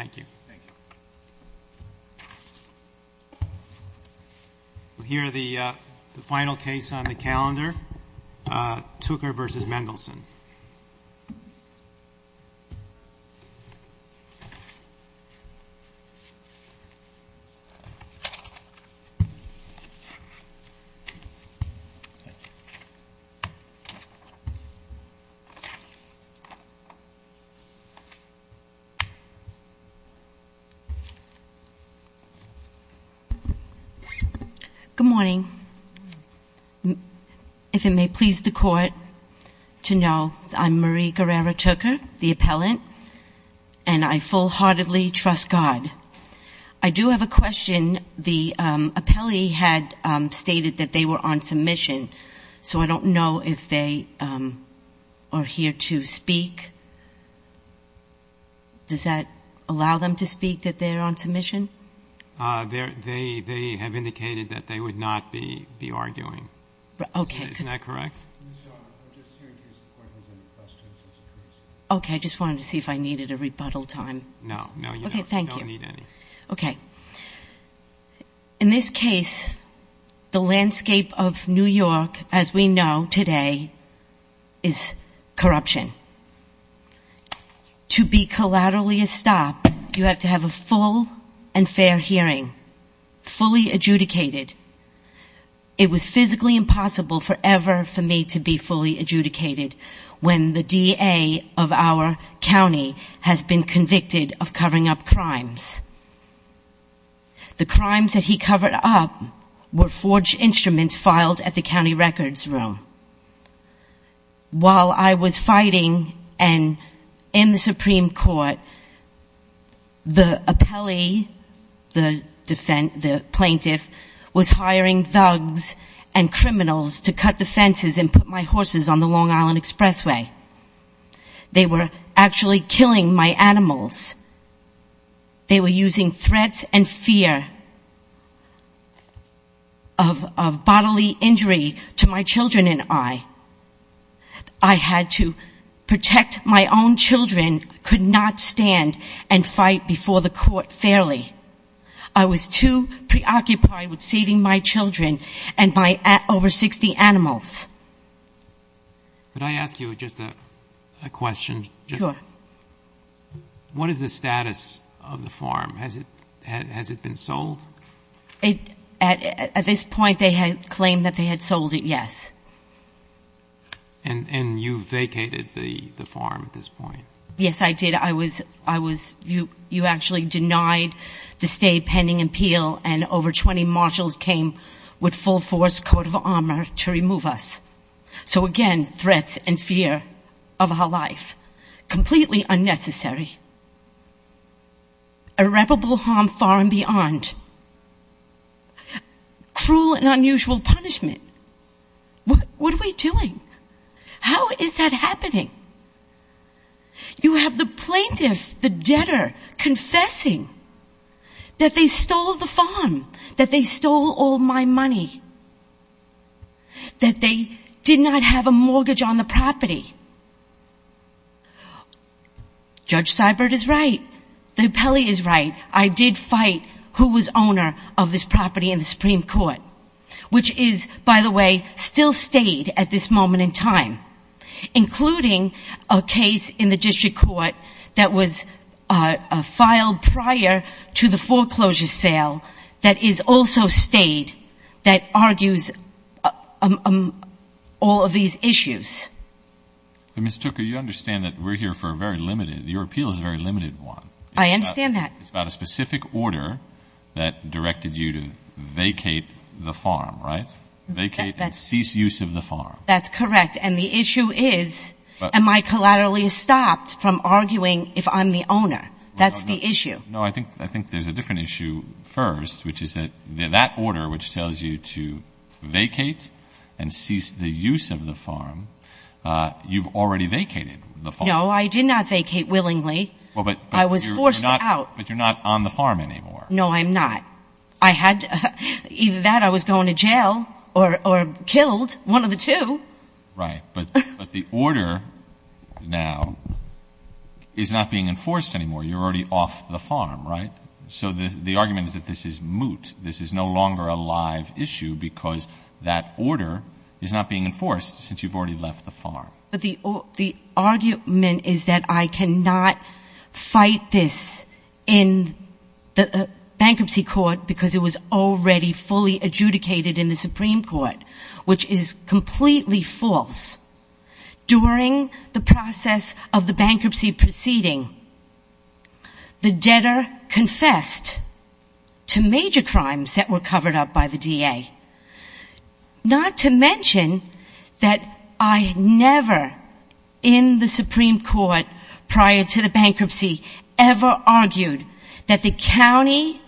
Thank you. Thank you. We'll hear the final case on the calendar, Tooker v. Mendelsohn. Thank you. Thank you. Come up to the stage. I'm Marie Guerrero-Tucker, the appellant, and I full-heartedly trust God. I do have a question. The appellee had stated that they were on submission, so I don't know if they are here to speak. Does that allow them to speak, that they're on submission? They have indicated that they would not be arguing. Okay. Isn't that correct? Okay. I just wanted to see if I needed a rebuttal time. No. No, you don't. Thank you. You don't need any. Okay. In this case, the landscape of New York, as we know today, is corruption. To be collaterally estopped, you have to have a full and fair hearing, fully adjudicated. It was physically impossible forever for me to be fully adjudicated when the DA of our county has been convicted of covering up crimes. The crimes that he covered up were forged instruments filed at the county records room. While I was fighting in the Supreme Court, the appellee, the plaintiff, was hiring thugs and criminals to cut the fences and put my horses on the Long Island Expressway. They were actually killing my animals. They were using threats and fear of bodily injury to my children and I. I had to protect my own children, could not stand and fight before the court fairly. I was too preoccupied with saving my children and my over 60 animals. Could I ask you just a question? Sure. What is the status of the farm? Has it been sold? At this point, they had claimed that they had sold it, yes. And you vacated the farm at this point? Yes, I did. You actually denied the stay pending appeal and over 20 marshals came with full force, coat of armor to remove us. So again, threats and fear of our life. Completely unnecessary. Irreparable harm far and beyond. Cruel and unusual punishment. What are we doing? How is that happening? You have the plaintiff, the debtor, confessing that they stole the farm. That they stole all my money. That they did not have a mortgage on the property. Judge Seibert is right. The appellee is right. I did fight who was owner of this property in the Supreme Court, which is, by the way, still stayed at this moment in time, including a case in the district court that was filed prior to the foreclosure sale that is also stayed that argues all of these issues. Ms. Tucker, you understand that we're here for a very limited, your appeal is a very limited one. I understand that. It's about a specific order that directed you to vacate the farm, right? Vacate and cease use of the farm. That's correct. And the issue is, am I collaterally stopped from arguing if I'm the owner? That's the issue. No, I think there's a different issue first, which is that that order which tells you to vacate and cease the use of the farm, you've already vacated the farm. No, I did not vacate willingly. I was forced out. But you're not on the farm anymore. No, I'm not. Either that or I was going to jail or killed, one of the two. Right. But the order now is not being enforced anymore. You're already off the farm, right? So the argument is that this is moot. This is no longer a live issue because that order is not being enforced since you've already left the farm. But the argument is that I cannot fight this in the bankruptcy court because it was already fully adjudicated in the Supreme Court, which is completely false. During the process of the bankruptcy proceeding, the debtor confessed to major crimes that were covered up by the DA, not to mention that I never in the Supreme Court prior to the bankruptcy ever argued that the county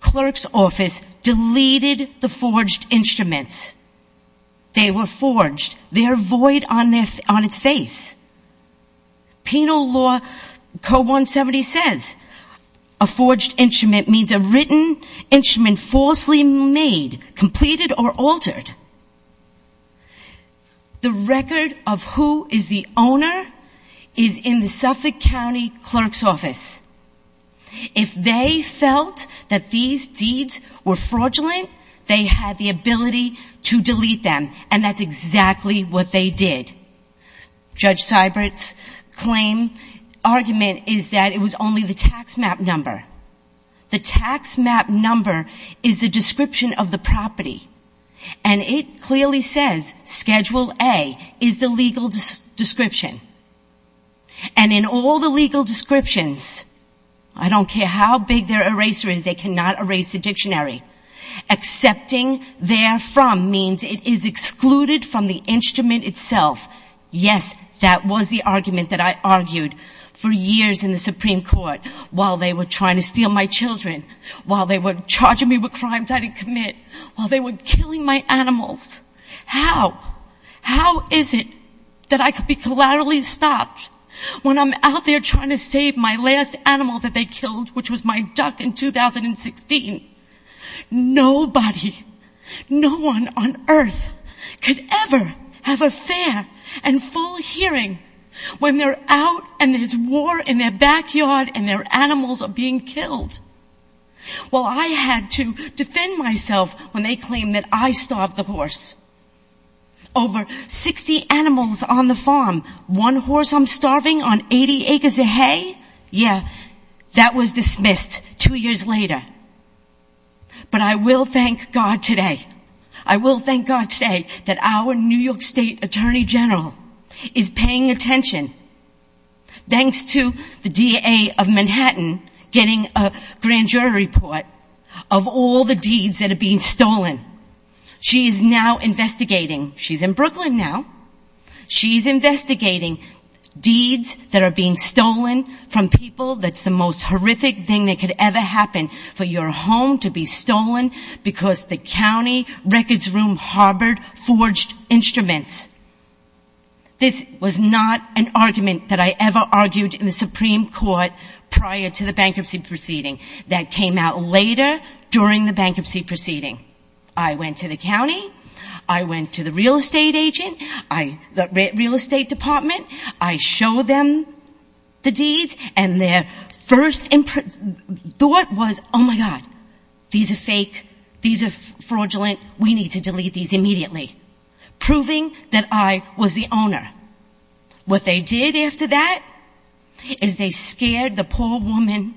clerk's office deleted the forged instruments. They were forged. They're void on its face. Penal law Code 170 says a forged instrument means a written instrument falsely made, completed, or altered. The record of who is the owner is in the Suffolk County clerk's office. If they felt that these deeds were fraudulent, they had the ability to delete them, and that's exactly what they did. Judge Seibert's claim argument is that it was only the tax map number. The tax map number is the description of the property, and it clearly says Schedule A is the legal description. And in all the legal descriptions, I don't care how big their eraser is, they cannot erase the dictionary. Accepting therefrom means it is excluded from the instrument itself. Yes, that was the argument that I argued for years in the Supreme Court while they were trying to steal my children, while they were charging me with crimes I didn't commit, while they were killing my animals. How, how is it that I could be collaterally stopped when I'm out there trying to save my last animal that they killed, which was my duck in 2016? Nobody, no one on earth could ever have a fair and full hearing when they're out and there's war in their backyard and their animals are being killed. Well, I had to defend myself when they claimed that I starved the horse. Over 60 animals on the farm, one horse I'm starving on 80 acres of hay? Yeah, that was dismissed two years later. But I will thank God today. I will thank God today that our New York State Attorney General is paying attention, thanks to the DA of Manhattan getting a grand jury report of all the deeds that are being stolen. She is now investigating. She's in Brooklyn now. She's investigating deeds that are being stolen from people. That's the most horrific thing that could ever happen for your home to be stolen because the county records room harbored forged instruments. This was not an argument that I ever argued in the Supreme Court prior to the bankruptcy proceeding. That came out later during the bankruptcy proceeding. I went to the county. I went to the real estate agent, the real estate department. I showed them the deeds, and their first thought was, oh, my God, these are fake. These are fraudulent. We need to delete these immediately. Proving that I was the owner. What they did after that is they scared the poor woman,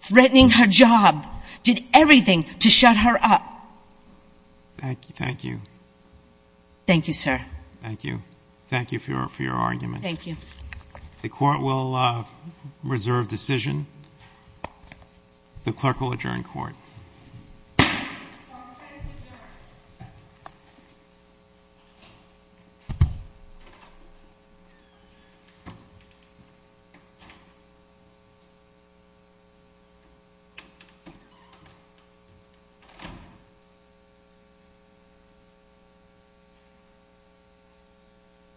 threatening her job, did everything to shut her up. Thank you. Thank you, sir. Thank you. Thank you for your argument. Thank you. The court will reserve decision. The clerk will adjourn court. Court is adjourned.